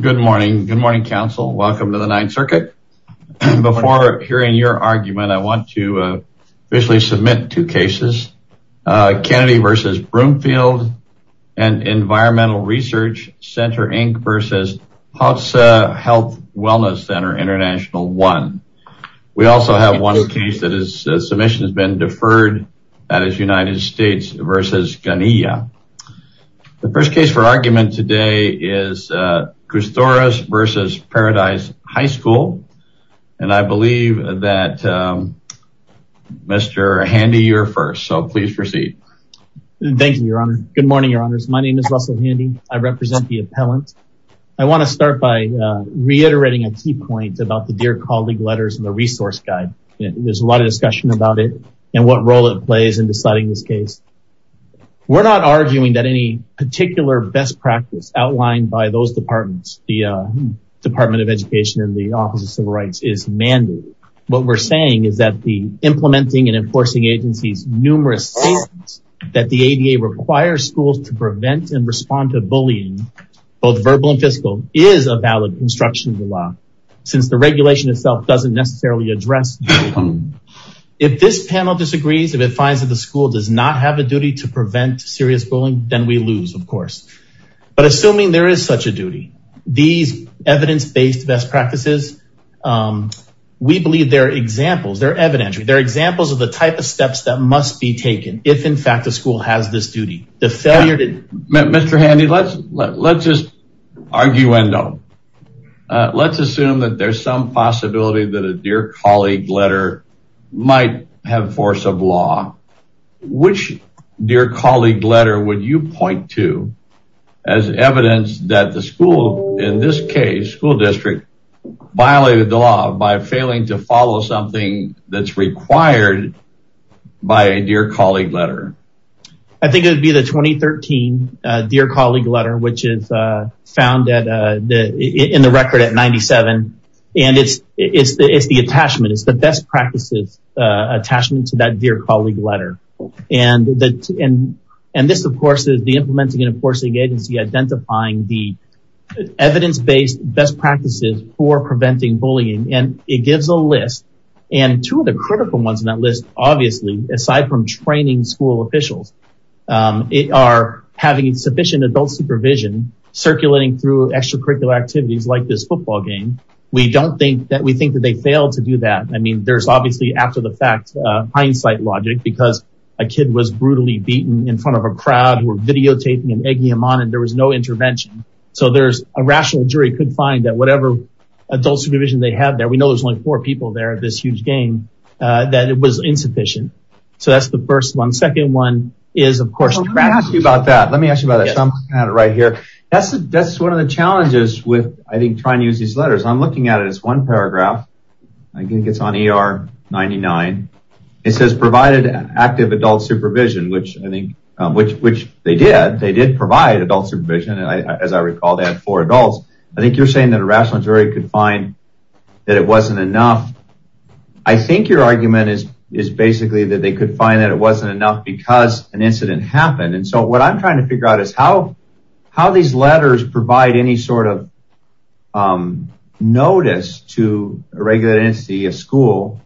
Good morning. Good morning, Council. Welcome to the Ninth Circuit. Before hearing your argument, I want to officially submit two cases. Kennedy v. Broomfield and Environmental Research Center, Inc. v. Hotsa Health Wellness Center, International One. We also have one case that is submission has been deferred, that is United States v. Ghania. The first case for argument is Csutoras v. Paradise High School. I believe that Mr. Handy, you're first, so please proceed. Thank you, Your Honor. Good morning, Your Honors. My name is Russell Handy. I represent the appellant. I want to start by reiterating a key point about the Dear Colleague letters and the resource guide. There's a lot of discussion about it and what role it plays in deciding this case. We're not arguing that any particular best practice outlined by those departments, the Department of Education and the Office of Civil Rights, is mandatory. What we're saying is that the implementing and enforcing agencies' numerous statements that the ADA requires schools to prevent and respond to bullying, both verbal and fiscal, is a valid obstruction of the law, since the regulation itself doesn't necessarily address bullying. If this panel disagrees, if it finds that the school does not have a duty to prevent serious bullying, then we lose, of course. But assuming there is such a duty, these evidence-based best practices, we believe they're examples, they're evidentiary, they're examples of the type of steps that must be taken if, in fact, the school has this duty. The failure to... Mr. Handy, let's just arguendo. Let's assume that there's some possibility that a Dear Colleague letter might have force of law. Which Dear Colleague letter would you point to as evidence that the school, in this case, school district, violated the law by failing to follow something that's required by a Dear Colleague letter? I think it would be the 2013 Dear Attachment. It's the best practices attachment to that Dear Colleague letter. And this, of course, is the Implementing and Enforcing Agency identifying the evidence-based best practices for preventing bullying. And it gives a list. And two of the critical ones in that list, obviously, aside from training school officials, are having sufficient adult supervision circulating through extracurricular activities like this football game. We don't think that... We think that they failed to do that. I mean, there's obviously, after the fact, hindsight logic because a kid was brutally beaten in front of a crowd who were videotaping and egging him on and there was no intervention. So there's a rational jury could find that whatever adult supervision they have there, we know there's only four people there at this huge game, that it was insufficient. So that's the first one. Second one is, of course, practice. Let me ask you about that. Let me ask you about that. So I'm looking at it right here. That's one of the challenges with, I think, trying to use these letters. I'm looking at it. It's one paragraph. I think it's on ER 99. It says provided active adult supervision, which I think, which they did. They did provide adult supervision. As I recall, they had four adults. I think you're saying that a rational jury could find that it wasn't enough. I think your argument is basically that they could find that it wasn't enough because an incident happened. And so what I'm trying to say is that while these letters provide any sort of notice to a regulated entity, a school,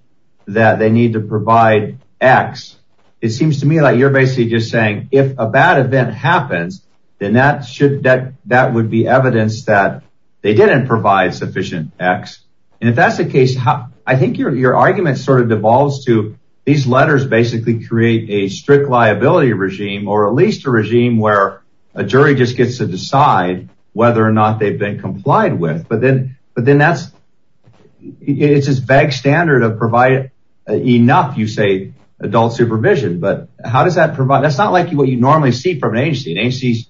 that they need to provide X, it seems to me like you're basically just saying if a bad event happens, then that would be evidence that they didn't provide sufficient X. And if that's the case, I think your argument sort of devolves to these letters basically create a strict liability regime or at least a regime where a jury just gets to decide whether or not they've been complied with. But then that's, it's this vague standard of provide enough, you say, adult supervision. But how does that provide? That's not like what you normally see from an agency. An agency's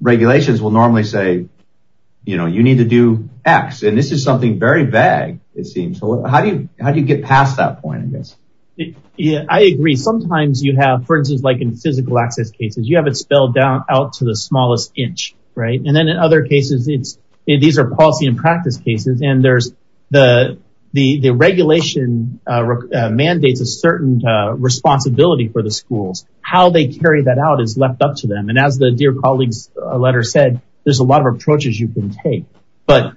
regulations will normally say, you know, you need to do X. And this is something very vague, it seems. How do you get past that point, I guess? Yeah, I agree. Sometimes you have, for instance, like in physical access cases, you have it spelled down out to the smallest inch, right? And then in other cases, it's, these are policy and practice cases. And there's the regulation mandates a certain responsibility for the schools. How they carry that out is left up to them. And as the dear colleague's letter said, there's a lot of approaches you can take. But,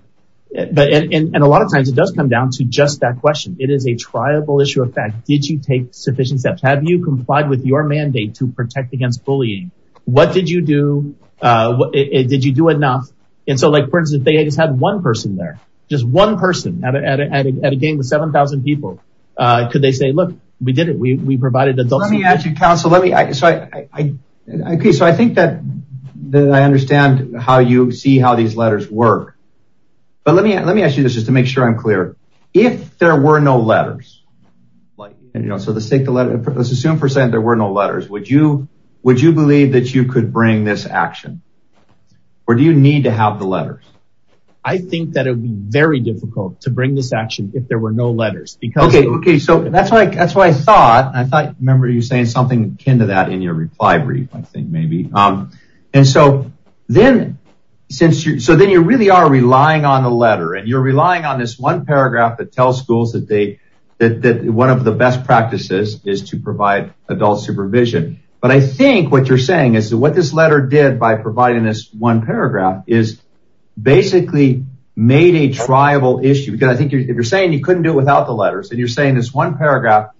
and a lot of times it does come down to just that question. It is a triable issue of fact, did you take sufficient steps? Have you complied with your mandate to protect against bullying? What did you do? Did you do enough? And so like, for instance, if they just had one person there, just one person at a gang of 7,000 people, could they say, look, we did it, we provided adult supervision? Let me ask you, counsel, let me, so I, okay, so I think that I understand how you see how these letters work. But let me, let me ask you this, just to make sure I'm clear. If there were no let's assume for a second, there were no letters, would you, would you believe that you could bring this action? Or do you need to have the letters? I think that it would be very difficult to bring this action if there were no letters. Okay. Okay. So that's why, that's why I thought, I thought, remember you saying something akin to that in your reply brief, I think maybe. And so then since you, so then you really are relying on the letter and you're relying on this paragraph that tells schools that they, that, that one of the best practices is to provide adult supervision. But I think what you're saying is that what this letter did by providing this one paragraph is basically made a tribal issue. Because I think if you're saying you couldn't do it without the letters and you're saying this one paragraph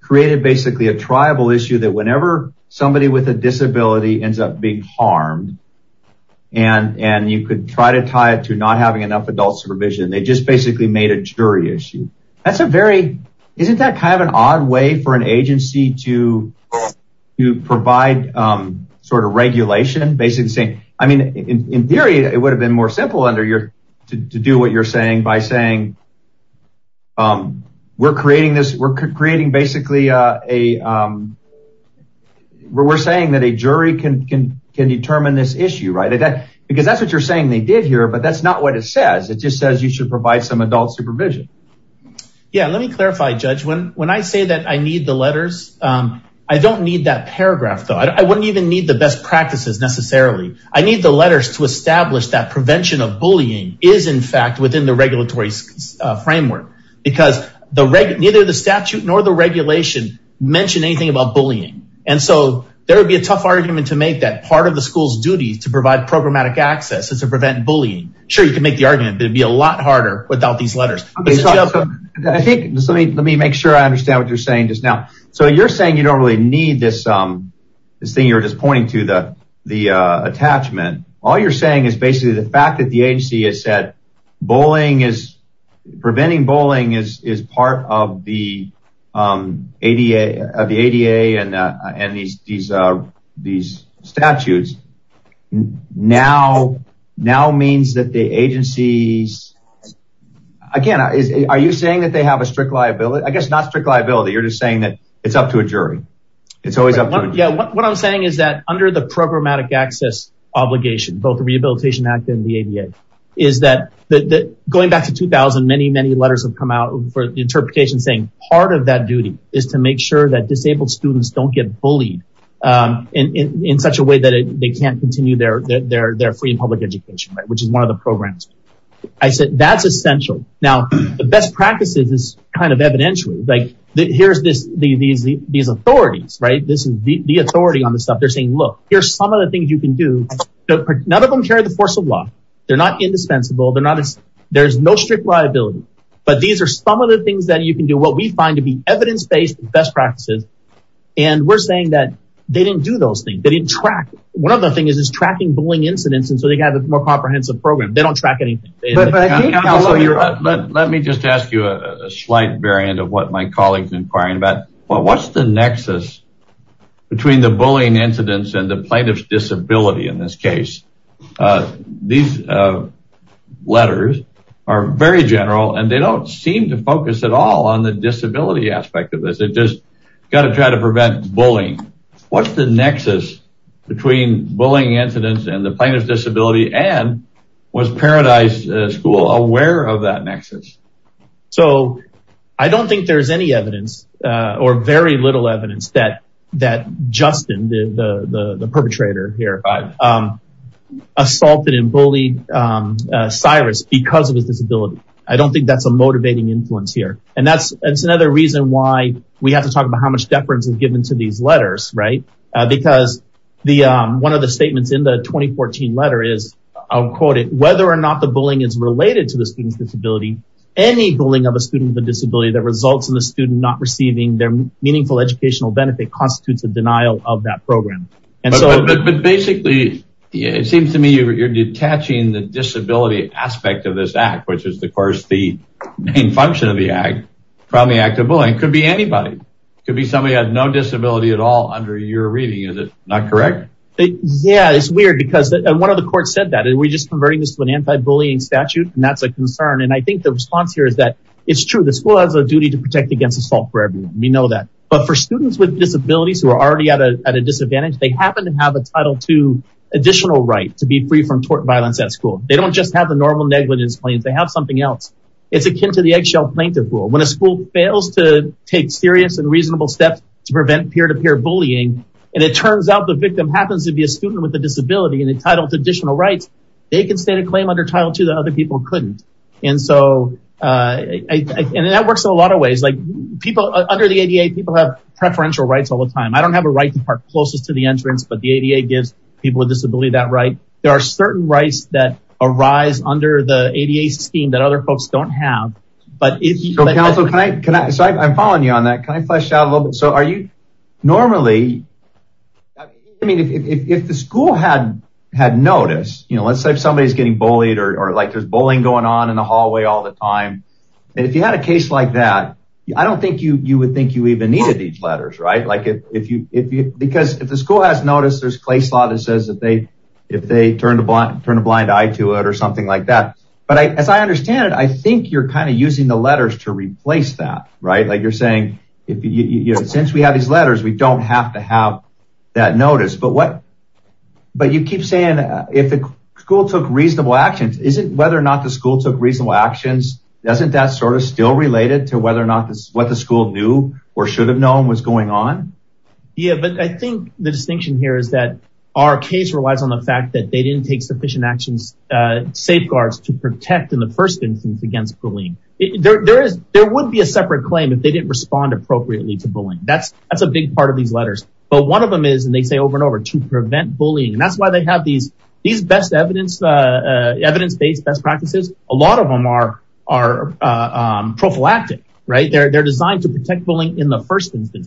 created basically a tribal issue that whenever somebody with a disability ends up being harmed and, and you could try to tie it to not having enough adult supervision, they just basically made a jury issue. That's a very, isn't that kind of an odd way for an agency to, to provide sort of regulation, basically saying, I mean, in theory, it would have been more simple under your, to do what you're saying by saying, we're creating this, we're creating basically a, we're saying that a jury can, can, can determine this issue, right? Because that's what you're but that's not what it says. It just says you should provide some adult supervision. Yeah. Let me clarify, judge. When, when I say that I need the letters, I don't need that paragraph though. I wouldn't even need the best practices necessarily. I need the letters to establish that prevention of bullying is in fact within the regulatory framework because the reg, neither the statute nor the regulation mentioned anything about bullying. And so there would be a tough argument to make that part of the school's duty to provide programmatic access and to prevent bullying. Sure. You can make the argument, but it'd be a lot harder without these letters. I think let me, let me make sure I understand what you're saying just now. So you're saying you don't really need this, this thing you were just pointing to the, the attachment. All you're saying is basically the fact that the agency has said, bullying is preventing bullying is, is part of the ADA of the ADA and, and these, these, these statutes now, now means that the agencies, again, are you saying that they have a strict liability? I guess not strict liability. You're just saying that it's up to a jury. It's always up to a jury. Yeah. What I'm saying is that under the programmatic access obligation, both the Rehabilitation Act and the ADA is that going back to 2000, many, many letters have come out for the interpretation saying part of that duty is to make sure that in, in, in such a way that they can't continue their, their, their free and public education, right. Which is one of the programs. I said, that's essential. Now the best practices is kind of evidentially like that. Here's this, the, these, these authorities, right. This is the authority on the stuff they're saying, look, here's some of the things you can do. None of them carry the force of law. They're not indispensable. They're not, there's no strict liability, but these are some of the things that you can do. What we find to evidence-based best practices. And we're saying that they didn't do those things. They didn't track. One of the things is tracking bullying incidents. And so they got a more comprehensive program. They don't track anything. Let me just ask you a slight variant of what my colleagues inquiring about what's the nexus between the bullying incidents and the plaintiff's disability. In this case, these letters are very general and they don't seem to focus at all on the disability aspect of this. It just got to try to prevent bullying. What's the nexus between bullying incidents and the plaintiff's disability and was Paradise School aware of that nexus? So I don't think there's any evidence or very little evidence that, that Justin, the perpetrator here, assaulted and bullied Cyrus because of his disability. I don't think that's a motivating influence here. And that's, that's another reason why we have to talk about how much deference is given to these letters, right? Because the, one of the statements in the 2014 letter is, I'll quote it, whether or not the bullying is related to the student's disability, any bullying of a student with a disability that results in the student not receiving their meaningful educational benefit constitutes a denial of that program. And so basically, it seems to me you're detaching the disability aspect of this act, which is the course, the main function of the act from the act of bullying. It could be anybody. It could be somebody who had no disability at all under your reading. Is it not correct? Yeah, it's weird because one of the courts said that we're just converting this to an anti-bullying statute. And that's a concern. And I think the response here is that it's true. The school has a duty to protect against assault for everyone. We know that. But for students with disabilities who are already at a disadvantage, they happen to have a Title II additional right to be free from tort violence at school. They don't just have the normal negligence claims. They have something else. It's akin to the eggshell plaintiff rule. When a school fails to take serious and reasonable steps to prevent peer-to-peer bullying, and it turns out the victim happens to be a student with a disability and entitled to additional rights, they can state a claim under Title II that other people couldn't. And so, and that works in a lot of ways. Like people under the ADA, people have preferential rights all the time. I don't have a right to park closest to the entrance, but the ADA gives people with disability that right. There are certain rights that arise under the ADA scheme that other folks don't have. But if you- So, counsel, can I, so I'm following you on that. Can I flesh out a little bit? So are you normally, I mean, if the school had noticed, you know, let's say if somebody is getting bullied or like there's bullying going on in the hallway all the time. And if you had a case like that, I don't think you would think you even needed these if they turned a blind eye to it or something like that. But as I understand it, I think you're kind of using the letters to replace that, right? Like you're saying, since we have these letters, we don't have to have that notice. But what, but you keep saying if the school took reasonable actions, is it whether or not the school took reasonable actions, doesn't that sort of still relate it to whether or not what the school knew or should have known was going on? Yeah. But I think the distinction here is that our case relies on the fact that they didn't take sufficient actions, safeguards to protect in the first instance against bullying. There would be a separate claim if they didn't respond appropriately to bullying. That's a big part of these letters. But one of them is, and they say over and over, to prevent bullying. And that's why they have these best evidence-based best practices. A lot of them are prophylactic, right? They're only taking one incident.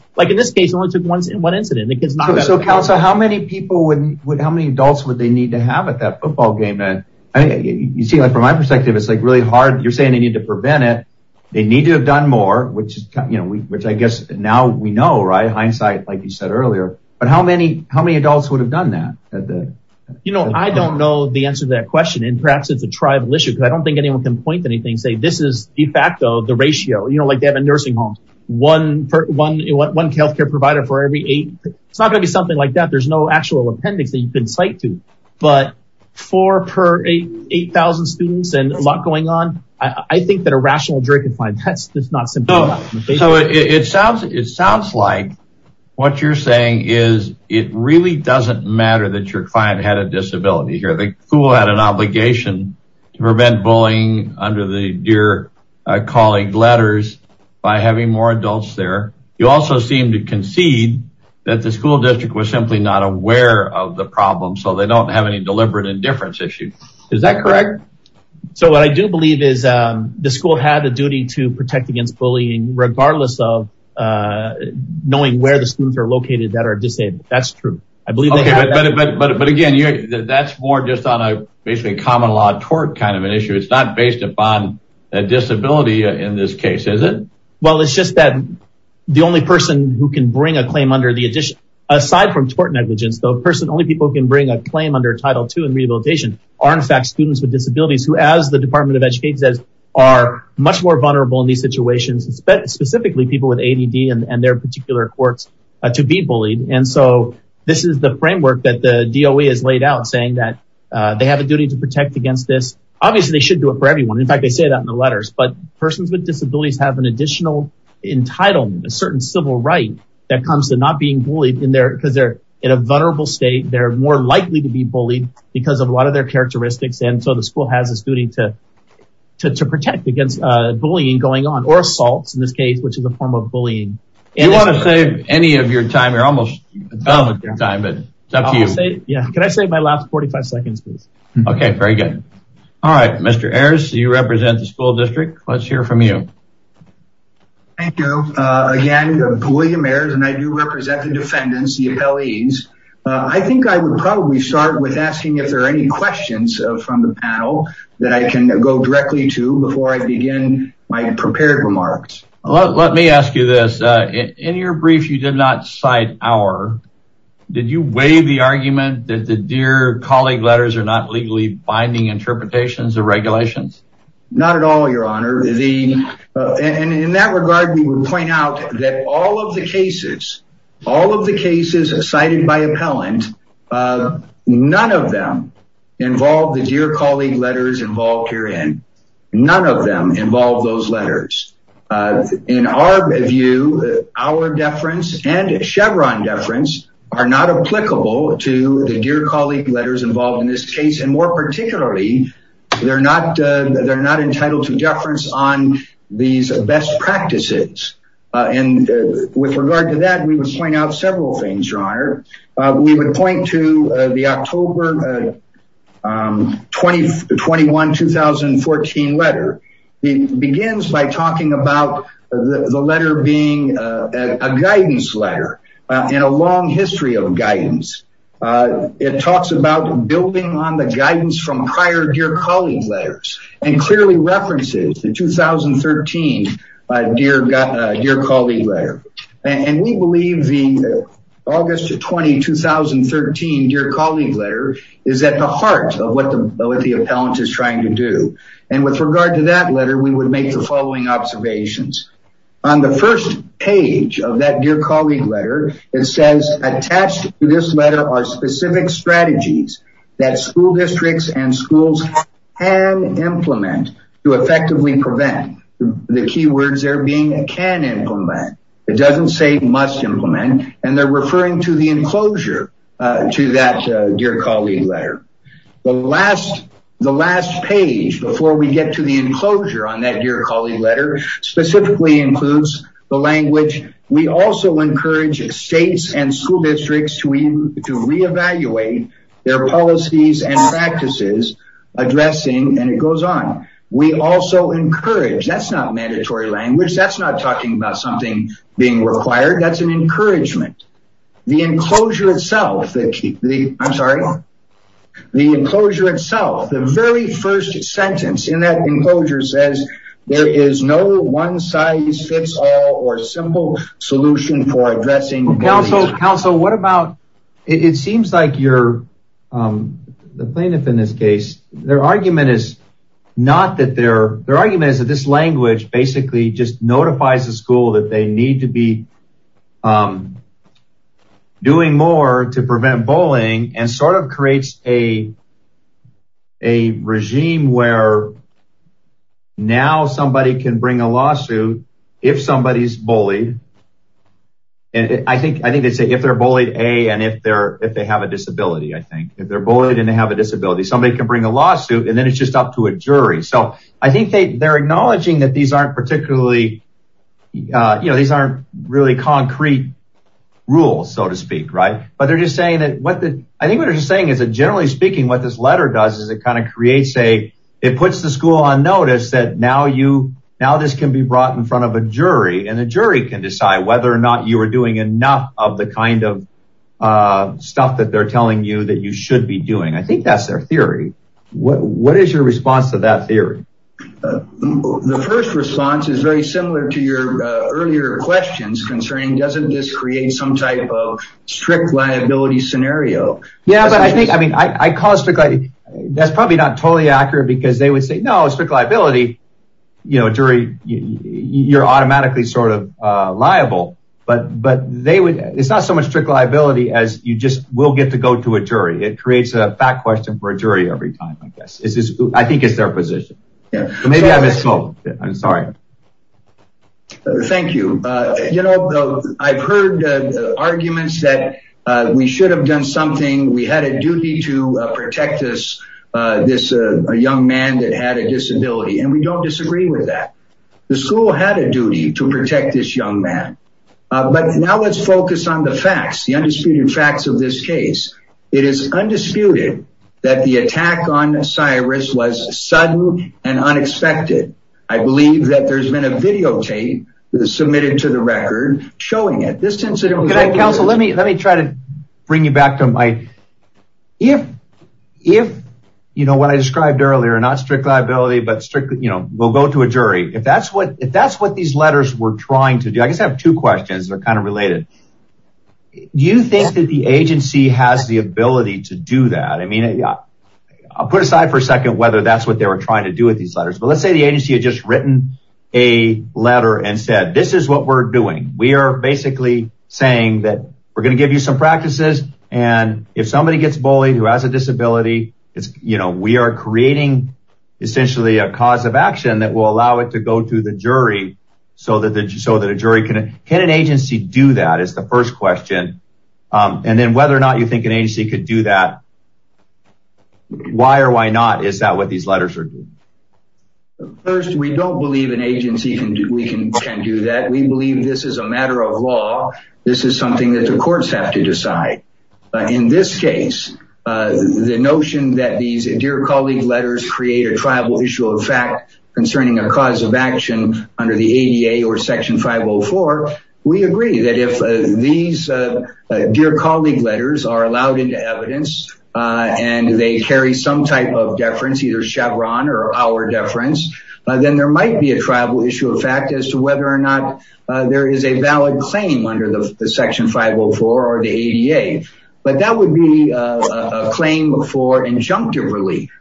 So how many people, how many adults would they need to have at that football game? You see, from my perspective, it's really hard. You're saying they need to prevent it. They need to have done more, which I guess now we know, right? Hindsight, like you said earlier. But how many adults would have done that? I don't know the answer to that question. And perhaps it's a tribal issue, because I don't think anyone can point to anything and say, this is de facto, the ratio, you know, like they have a nursing home, one healthcare provider for every eight. It's not gonna be something like that. There's no actual appendix that you can cite to. But four per 8,000 students and a lot going on. I think that a rational jury can find that's not simple. So it sounds like what you're saying is it really doesn't matter that your client had a disability here. The school had an obligation to prevent bullying under the Dear Colleague letters by having more adults there. You also seem to concede that the school district was simply not aware of the problem. So they don't have any deliberate indifference issue. Is that correct? So what I do believe is the school had a duty to protect against bullying, regardless of knowing where the students are located that are disabled. That's true. Okay, but again, that's more just on a basically common law tort kind of an issue. It's not based upon a disability in this case, is it? Well, it's just that the only person who can bring a claim under the addition, aside from tort negligence, the only person only people can bring a claim under Title II and rehabilitation are in fact students with disabilities, who as the Department of Education says, are much more vulnerable in these situations, specifically people with ADD and their particular courts to be bullied. And so this is the framework that the DOE has laid out saying that they have a duty to protect against this. Obviously, they should do it for everyone. In fact, they say that in the letters, but persons with disabilities have an additional entitlement, a certain civil right that comes to not being bullied in there because they're in a vulnerable state, they're more likely to be bullied because of a lot of their characteristics. And so the school has this duty to protect against bullying going on or assaults in this case, which is a form of bullying. You want to save any of your time, you're almost done with your time, but it's up to you. Yeah, can I save my last 45 seconds, please? Okay, very good. All right, Mr. Ayers, you represent the school district. Let's hear from you. Thank you. Again, William Ayers and I do represent the defendants, the appellees. I think I would probably start with asking if there are any questions from the panel that I can go directly to before I begin my prepared remarks. Let me ask you this. In your brief, you did not cite our, did you weigh the argument that the Dear Colleague letters are not legally binding interpretations of regulations? Not at all, your honor. In that regard, we would point out that all of the cases, all of the cases cited by appellant, none of them involved the Dear Colleague letters involved herein. None of them involve those letters. In our view, our deference and Chevron deference are not applicable to the Dear Colleague letters involved in this case. And more particularly, they're not entitled to deference on these best practices. And with regard to that, we would point out several things, your honor. We would point to the October 21, 2014 letter. It begins by talking about the letter being a guidance letter in a long history of guidance. It talks about building on the guidance from prior Dear Colleague letters and clearly references the 2013 Dear Colleague letter. And we believe the August 20, 2013 Dear Colleague letter is at the heart of what the appellant is trying to do. And with regard to that letter, we would make the following observations. On the first page of that Dear Colleague letter, it says attached to this letter are specific strategies that school districts and implement to effectively prevent the key words there being a can implement. It doesn't say must implement and they're referring to the enclosure to that Dear Colleague letter. The last page before we get to the enclosure on that Dear Colleague letter specifically includes the language. We also encourage states and school districts to reevaluate their policies and we also encourage, that's not mandatory language, that's not talking about something being required, that's an encouragement. The enclosure itself, I'm sorry, the enclosure itself, the very first sentence in that enclosure says there is no one size fits all or simple solution for addressing. Counsel, what about, it seems like you're, the plaintiff in this case, their argument is not that they're, their argument is that this language basically just notifies the school that they need to be doing more to prevent bullying and sort of creates a a regime where now somebody can bring a lawsuit if somebody's bullied. And I think, I think they say if they're bullied, A, and if they're, if they have a disability, I think, if they're bullied and they have a disability, somebody can bring a lawsuit and then it's just up to a jury. So I think they, they're acknowledging that these aren't particularly, you know, these aren't really concrete rules, so to speak, right? But they're just saying that what the, I think what they're just saying is that generally speaking, what this letter does is it kind of creates a, it puts the school on notice that now you, now this can be brought in front of a jury and the jury can decide whether or not you are doing enough of the kind of stuff that they're telling you that you should be doing. I think that's their theory. What, what is your response to that theory? The first response is very similar to your earlier questions concerning, doesn't this create some type of strict liability scenario? Yeah, but I think, I mean, I call it strict liability. That's probably not totally accurate because they would say, no, strict liability, you know, jury, you're automatically sort of you just will get to go to a jury. It creates a fact question for a jury every time. I guess I think it's their position. Maybe I misspoke. I'm sorry. Thank you. You know, I've heard arguments that we should have done something. We had a duty to protect this, this young man that had a disability and we don't disagree with that. The school had a duty to protect this young man. But now let's focus on the facts, the undisputed facts of this case. It is undisputed that the attack on Cyrus was sudden and unexpected. I believe that there's been a videotape that was submitted to the record showing it. This incident. Counsel, let me, let me try to bring you back to my, if, if you know what I described earlier, not strict liability, but strictly, you know, we'll go to a jury. If that's what, if that's what these letters were trying to do, I guess I have two questions that are kind of related. Do you think that the agency has the ability to do that? I mean, I'll put aside for a second, whether that's what they were trying to do with these letters, but let's say the agency had just written a letter and said, this is what we're doing. We are basically saying that we're going to give you some practices. And if somebody gets bullied, who has a disability, it's, you know, we are creating essentially a cause of action that will allow it to go to the jury so that the, so that a jury can, can an agency do that? It's the first question. And then whether or not you think an agency could do that, why or why not, is that what these letters are doing? First, we don't believe an agency can do that. We believe this is a matter of law. This is something that the courts have to decide. In this case, the notion that these Dear Colleague letters create a tribal issue of fact concerning a cause of action under the ADA or Section 504, we agree that if these Dear Colleague letters are allowed into evidence and they carry some type of deference, either Chevron or our deference, then there might be a tribal issue of fact as to whether or not there is a valid claim under the Section 504 or the ADA. But that would be a claim for injunctive relief.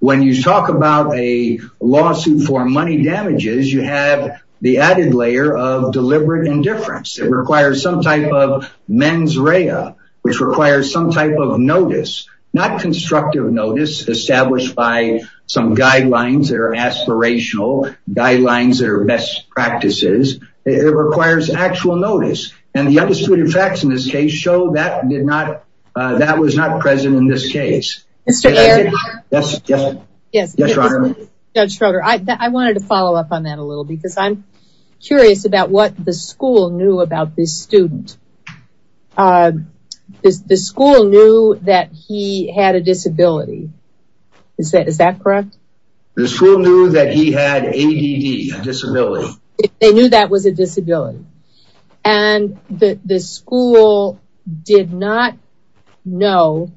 When you talk about a lawsuit for money damages, you have the added layer of deliberate indifference. It requires some type of mens rea, which requires some type of notice, not constructive notice established by some guidelines that are aspirational, guidelines that are best practices. It requires actual notice. The undisputed facts in this case show that was not present in this case. I wanted to follow up on that a little bit because I'm curious about what the school knew about this student. The school knew that he had a disability. Is that correct? The school knew that he had ADD, a disability. They knew that was a disability. The school did not know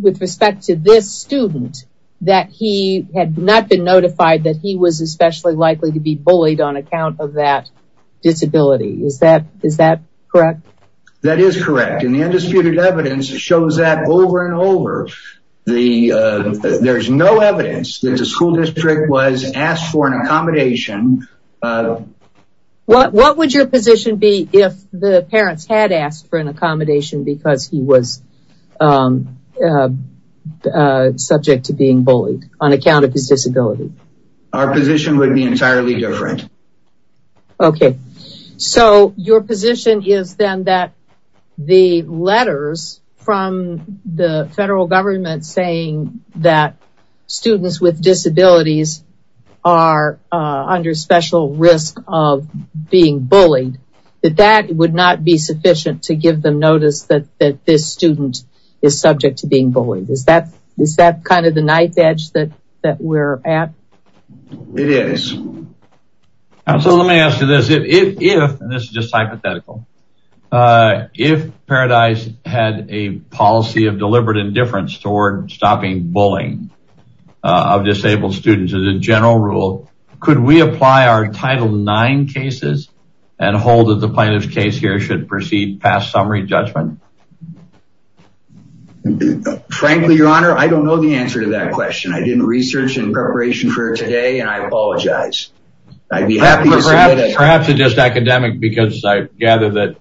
with respect to this student that he had not been notified that he was especially likely to be bullied on account of that disability. Is that correct? That is correct. The undisputed evidence shows that over and over. The there's no evidence that the school district was asked for an accommodation. What would your position be if the parents had asked for an accommodation because he was subject to being bullied on account of his disability? Our position would be entirely different. Okay. So your position is then that the letters from the federal government saying that students with disabilities are under special risk of being bullied, that that would not be sufficient to give them notice that this student is subject to being bullied. Is that kind of the knife edge that we're at? It is. So let me ask you this. If, and this is just hypothetical, if Paradise had a policy of deliberate indifference toward stopping bullying of disabled students as a general rule, could we apply our Title IX cases and hold that the plaintiff's case here should proceed past summary judgment? Frankly, your honor, I don't know the answer to that question. I didn't research in preparation for today and I apologize. I'd be happy to submit it. Perhaps it's just academic because I gather that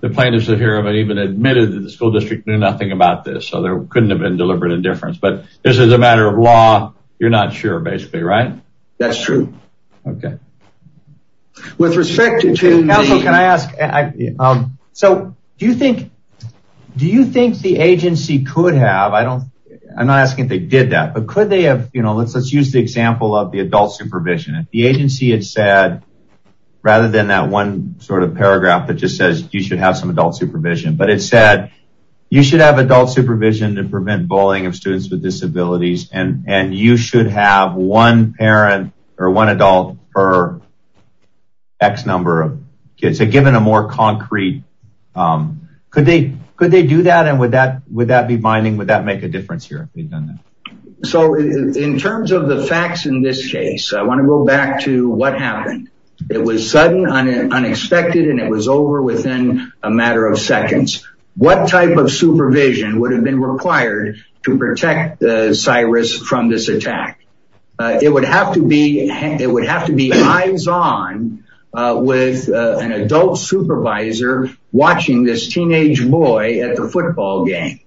the plaintiffs here haven't even admitted that the school district knew nothing about this. So there couldn't have been deliberate indifference, but this is a matter of law. You're not sure basically, right? That's true. Okay. With respect to me, counsel, can I ask, so do you think, do you think the agency could have, I don't, I'm not asking if they did that, but could they have, you know, let's, let's use the example of the adult supervision. If the agency had said, rather than that one sort of paragraph that just says you should have some adult supervision, but it said you should have adult supervision to prevent bullying of students with disabilities. And, and you should have one parent or one adult per X number of kids. So given a more concrete, could they, could they do that? And would that, would that be binding? Would that In terms of the facts in this case, I want to go back to what happened. It was sudden unexpected, and it was over within a matter of seconds. What type of supervision would have been required to protect Cyrus from this attack? It would have to be, it would have to be eyes on with an adult supervisor watching this teenage boy at the football game.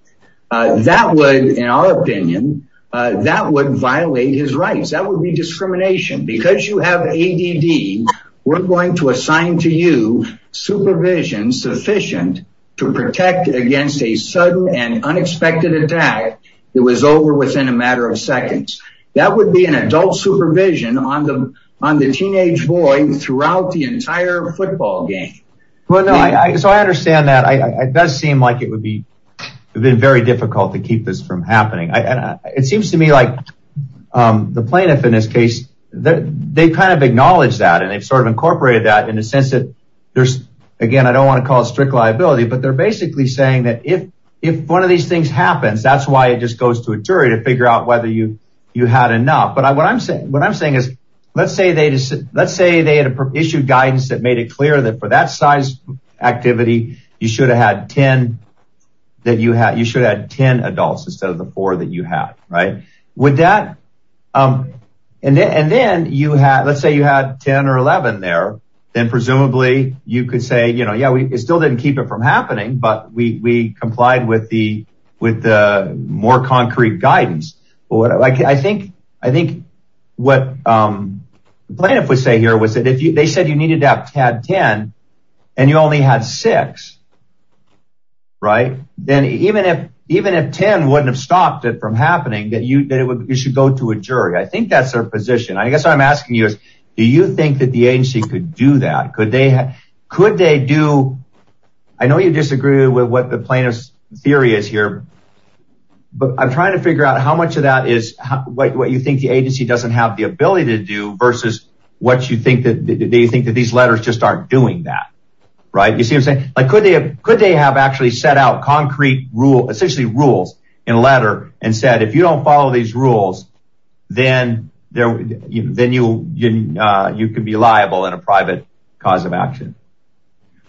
That would, in our opinion, that would violate his rights. That would be discrimination because you have ADD. We're going to assign to you supervision sufficient to protect against a sudden and unexpected attack. It was over within a matter of seconds. That would be an adult supervision on the, on the teenage boy throughout the entire football game. Well, no, I, so I understand that. I, it does seem like it would have been very difficult to keep this from happening. I, it seems to me like the plaintiff in this case, they kind of acknowledge that and they've sort of incorporated that in a sense that there's, again, I don't want to call it strict liability, but they're basically saying that if, if one of these things happens, that's why it just goes to a jury to figure out whether you, you had enough. But I, what I'm saying, what I'm saying is let's say they just, let's say they had issued guidance that made it clear that for that size activity, you should have had 10 that you had, you should have had 10 adults instead of the four that you had. Right. Would that, and then, and then you had, let's say you had 10 or 11 there, then presumably you could say, you know, yeah, we still didn't keep it from happening, but we, we complied with the, with the more concrete guidance. I think, I think what the plaintiff would say here was that if they said you needed to have 10 and you only had six, right? Then even if, even if 10 wouldn't have stopped it from happening, that you, that it would, you should go to a jury. I think that's their position. I guess what I'm asking you is, do you think that the agency could do that? Could they, could they do, I know you disagree with what the plaintiff's theory is here, but I'm trying to figure out how much of that is what you think the agency doesn't have the ability to do versus what you think that they think that these letters just aren't doing that. Right. You see what I'm saying? Like, could they have, could they have actually set out concrete rule, essentially rules in a letter and said, if you don't follow these rules, then there, then you, you, you can be liable in a private cause of action.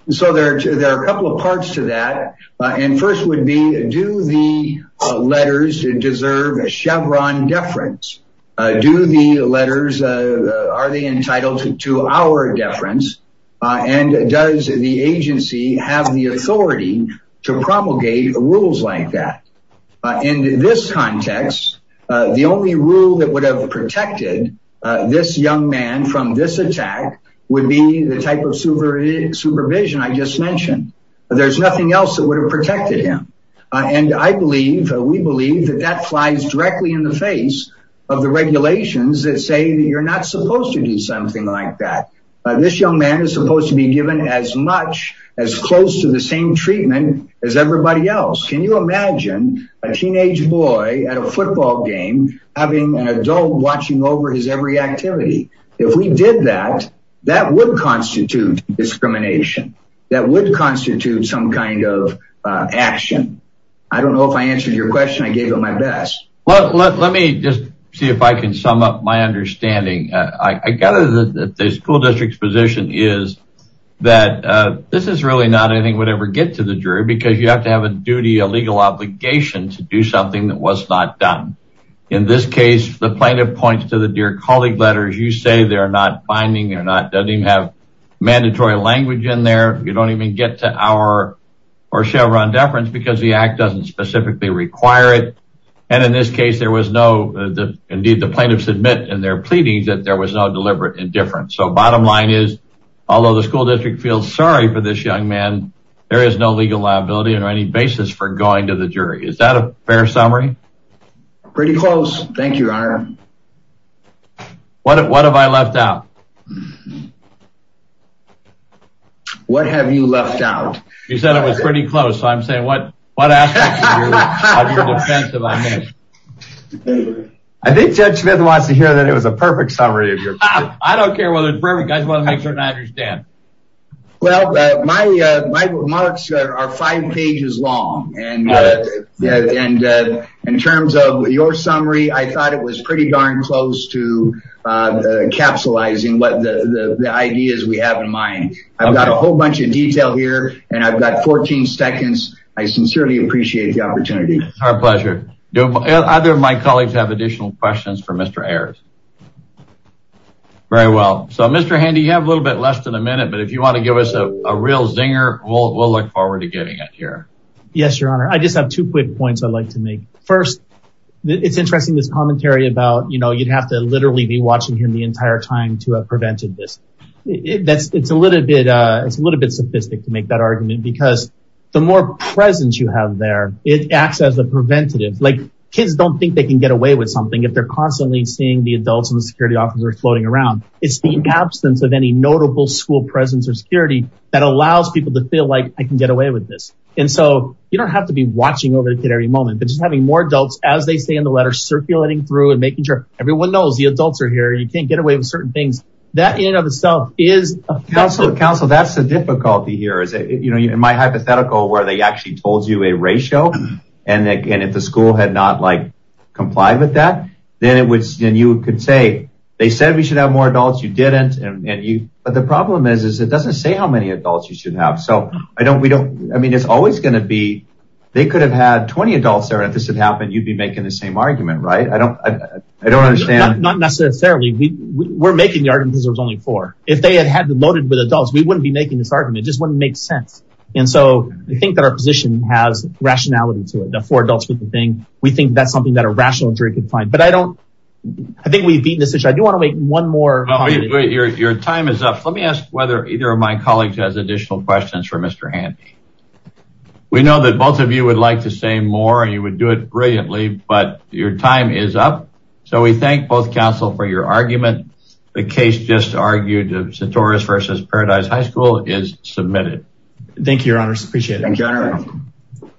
So there are a couple of parts to that. And first would be, do the letters deserve a Chevron deference? Do the letters, are they entitled to our deference? And does the agency have the authority to propagate rules like that? In this context, the only rule that would have protected this young man from this attack would be the type of supervision I just mentioned. There's nothing else that would have protected him. And I believe, we believe that that flies directly in the face of the regulations that say that you're not supposed to do something like that. This young man is supposed to be given as much as close to the same treatment as everybody else. Can you imagine a teenage boy at a football game, having an adult watching over his every activity? If we did that, that would constitute discrimination. That would constitute some kind of action. I don't know if I answered your question. I gave it my best. Well, let me just see if I can sum up my understanding. I gather that the school district's position is that this is really not anything would ever get to the jury because you have to have a duty, a legal obligation to do something that was not done. In this case, the plaintiff points to the dear colleague letters. You say they're not binding or not, have mandatory language in there. You don't even get to our or Chevron deference because the act doesn't specifically require it. And in this case, there was no, indeed, the plaintiffs admit in their pleadings that there was no deliberate indifference. So bottom line is, although the school district feels sorry for this young man, there is no legal liability or any basis for going to the jury. Is that a fair summary? Pretty close. Thank you, Your Honor. What have I left out? What have you left out? You said it was pretty close. So I'm saying what aspect of your defense have I missed? I think Judge Smith wants to hear that it was a perfect summary of your case. I don't care whether it's perfect. I just want to make sure I understand. Well, my remarks are five pages long, and in terms of your summary, I thought it was pretty darn close to capsulizing what the ideas we have in mind. I've got a whole bunch of detail here, and I've got 14 seconds. I sincerely appreciate the opportunity. Our pleasure. Do either of my colleagues have additional questions for Mr. Ayers? Very well. So Mr. Handy, you have a little bit less than a minute, but if you want to give us a real zinger, we'll look forward to getting it here. Yes, Your Honor. I just have two quick points I'd like to make. First, it's interesting this commentary about, you know, you'd have to literally be watching him the entire time to have prevented this. It's a little bit sophisticated to make that argument, because the more presence you have there, it acts as a preventative. Like, kids don't think they can get away with something if they're constantly seeing the adults and the security officers floating around. It's the absence of any notable school presence or security that allows people to feel like, I can get away with this. And so you don't have to be watching over the kid every moment, but just having more adults, as they say in the letter, circulating through and making sure everyone knows the adults are here, you can't get away with certain things. That in and of itself is... Counselor, that's the difficulty here. In my hypothetical, where they actually told you a ratio, and if the school had complied with that, then you could say, they said we should have more adults, you didn't. But the problem is, it doesn't say how many adults you should have. So, I mean, it's always going to be, they could have had 20 adults there, and if this had happened, you'd be making the same argument, right? I don't understand. Not necessarily. We're making the argument because there's only four. If they had loaded with adults, we wouldn't be making this argument. It just wouldn't make sense. And so I think that our position has rationality to it, we think that's something that a rational jury could find. But I don't... I think we've beaten this issue. I do want to make one more... Your time is up. Let me ask whether either of my colleagues has additional questions for Mr. Handy. We know that both of you would like to say more, and you would do it brilliantly, but your time is up. So we thank both counsel for your argument. The case just argued of Centaurus versus Paradise High School is submitted. Thank you, your honors. Appreciate it.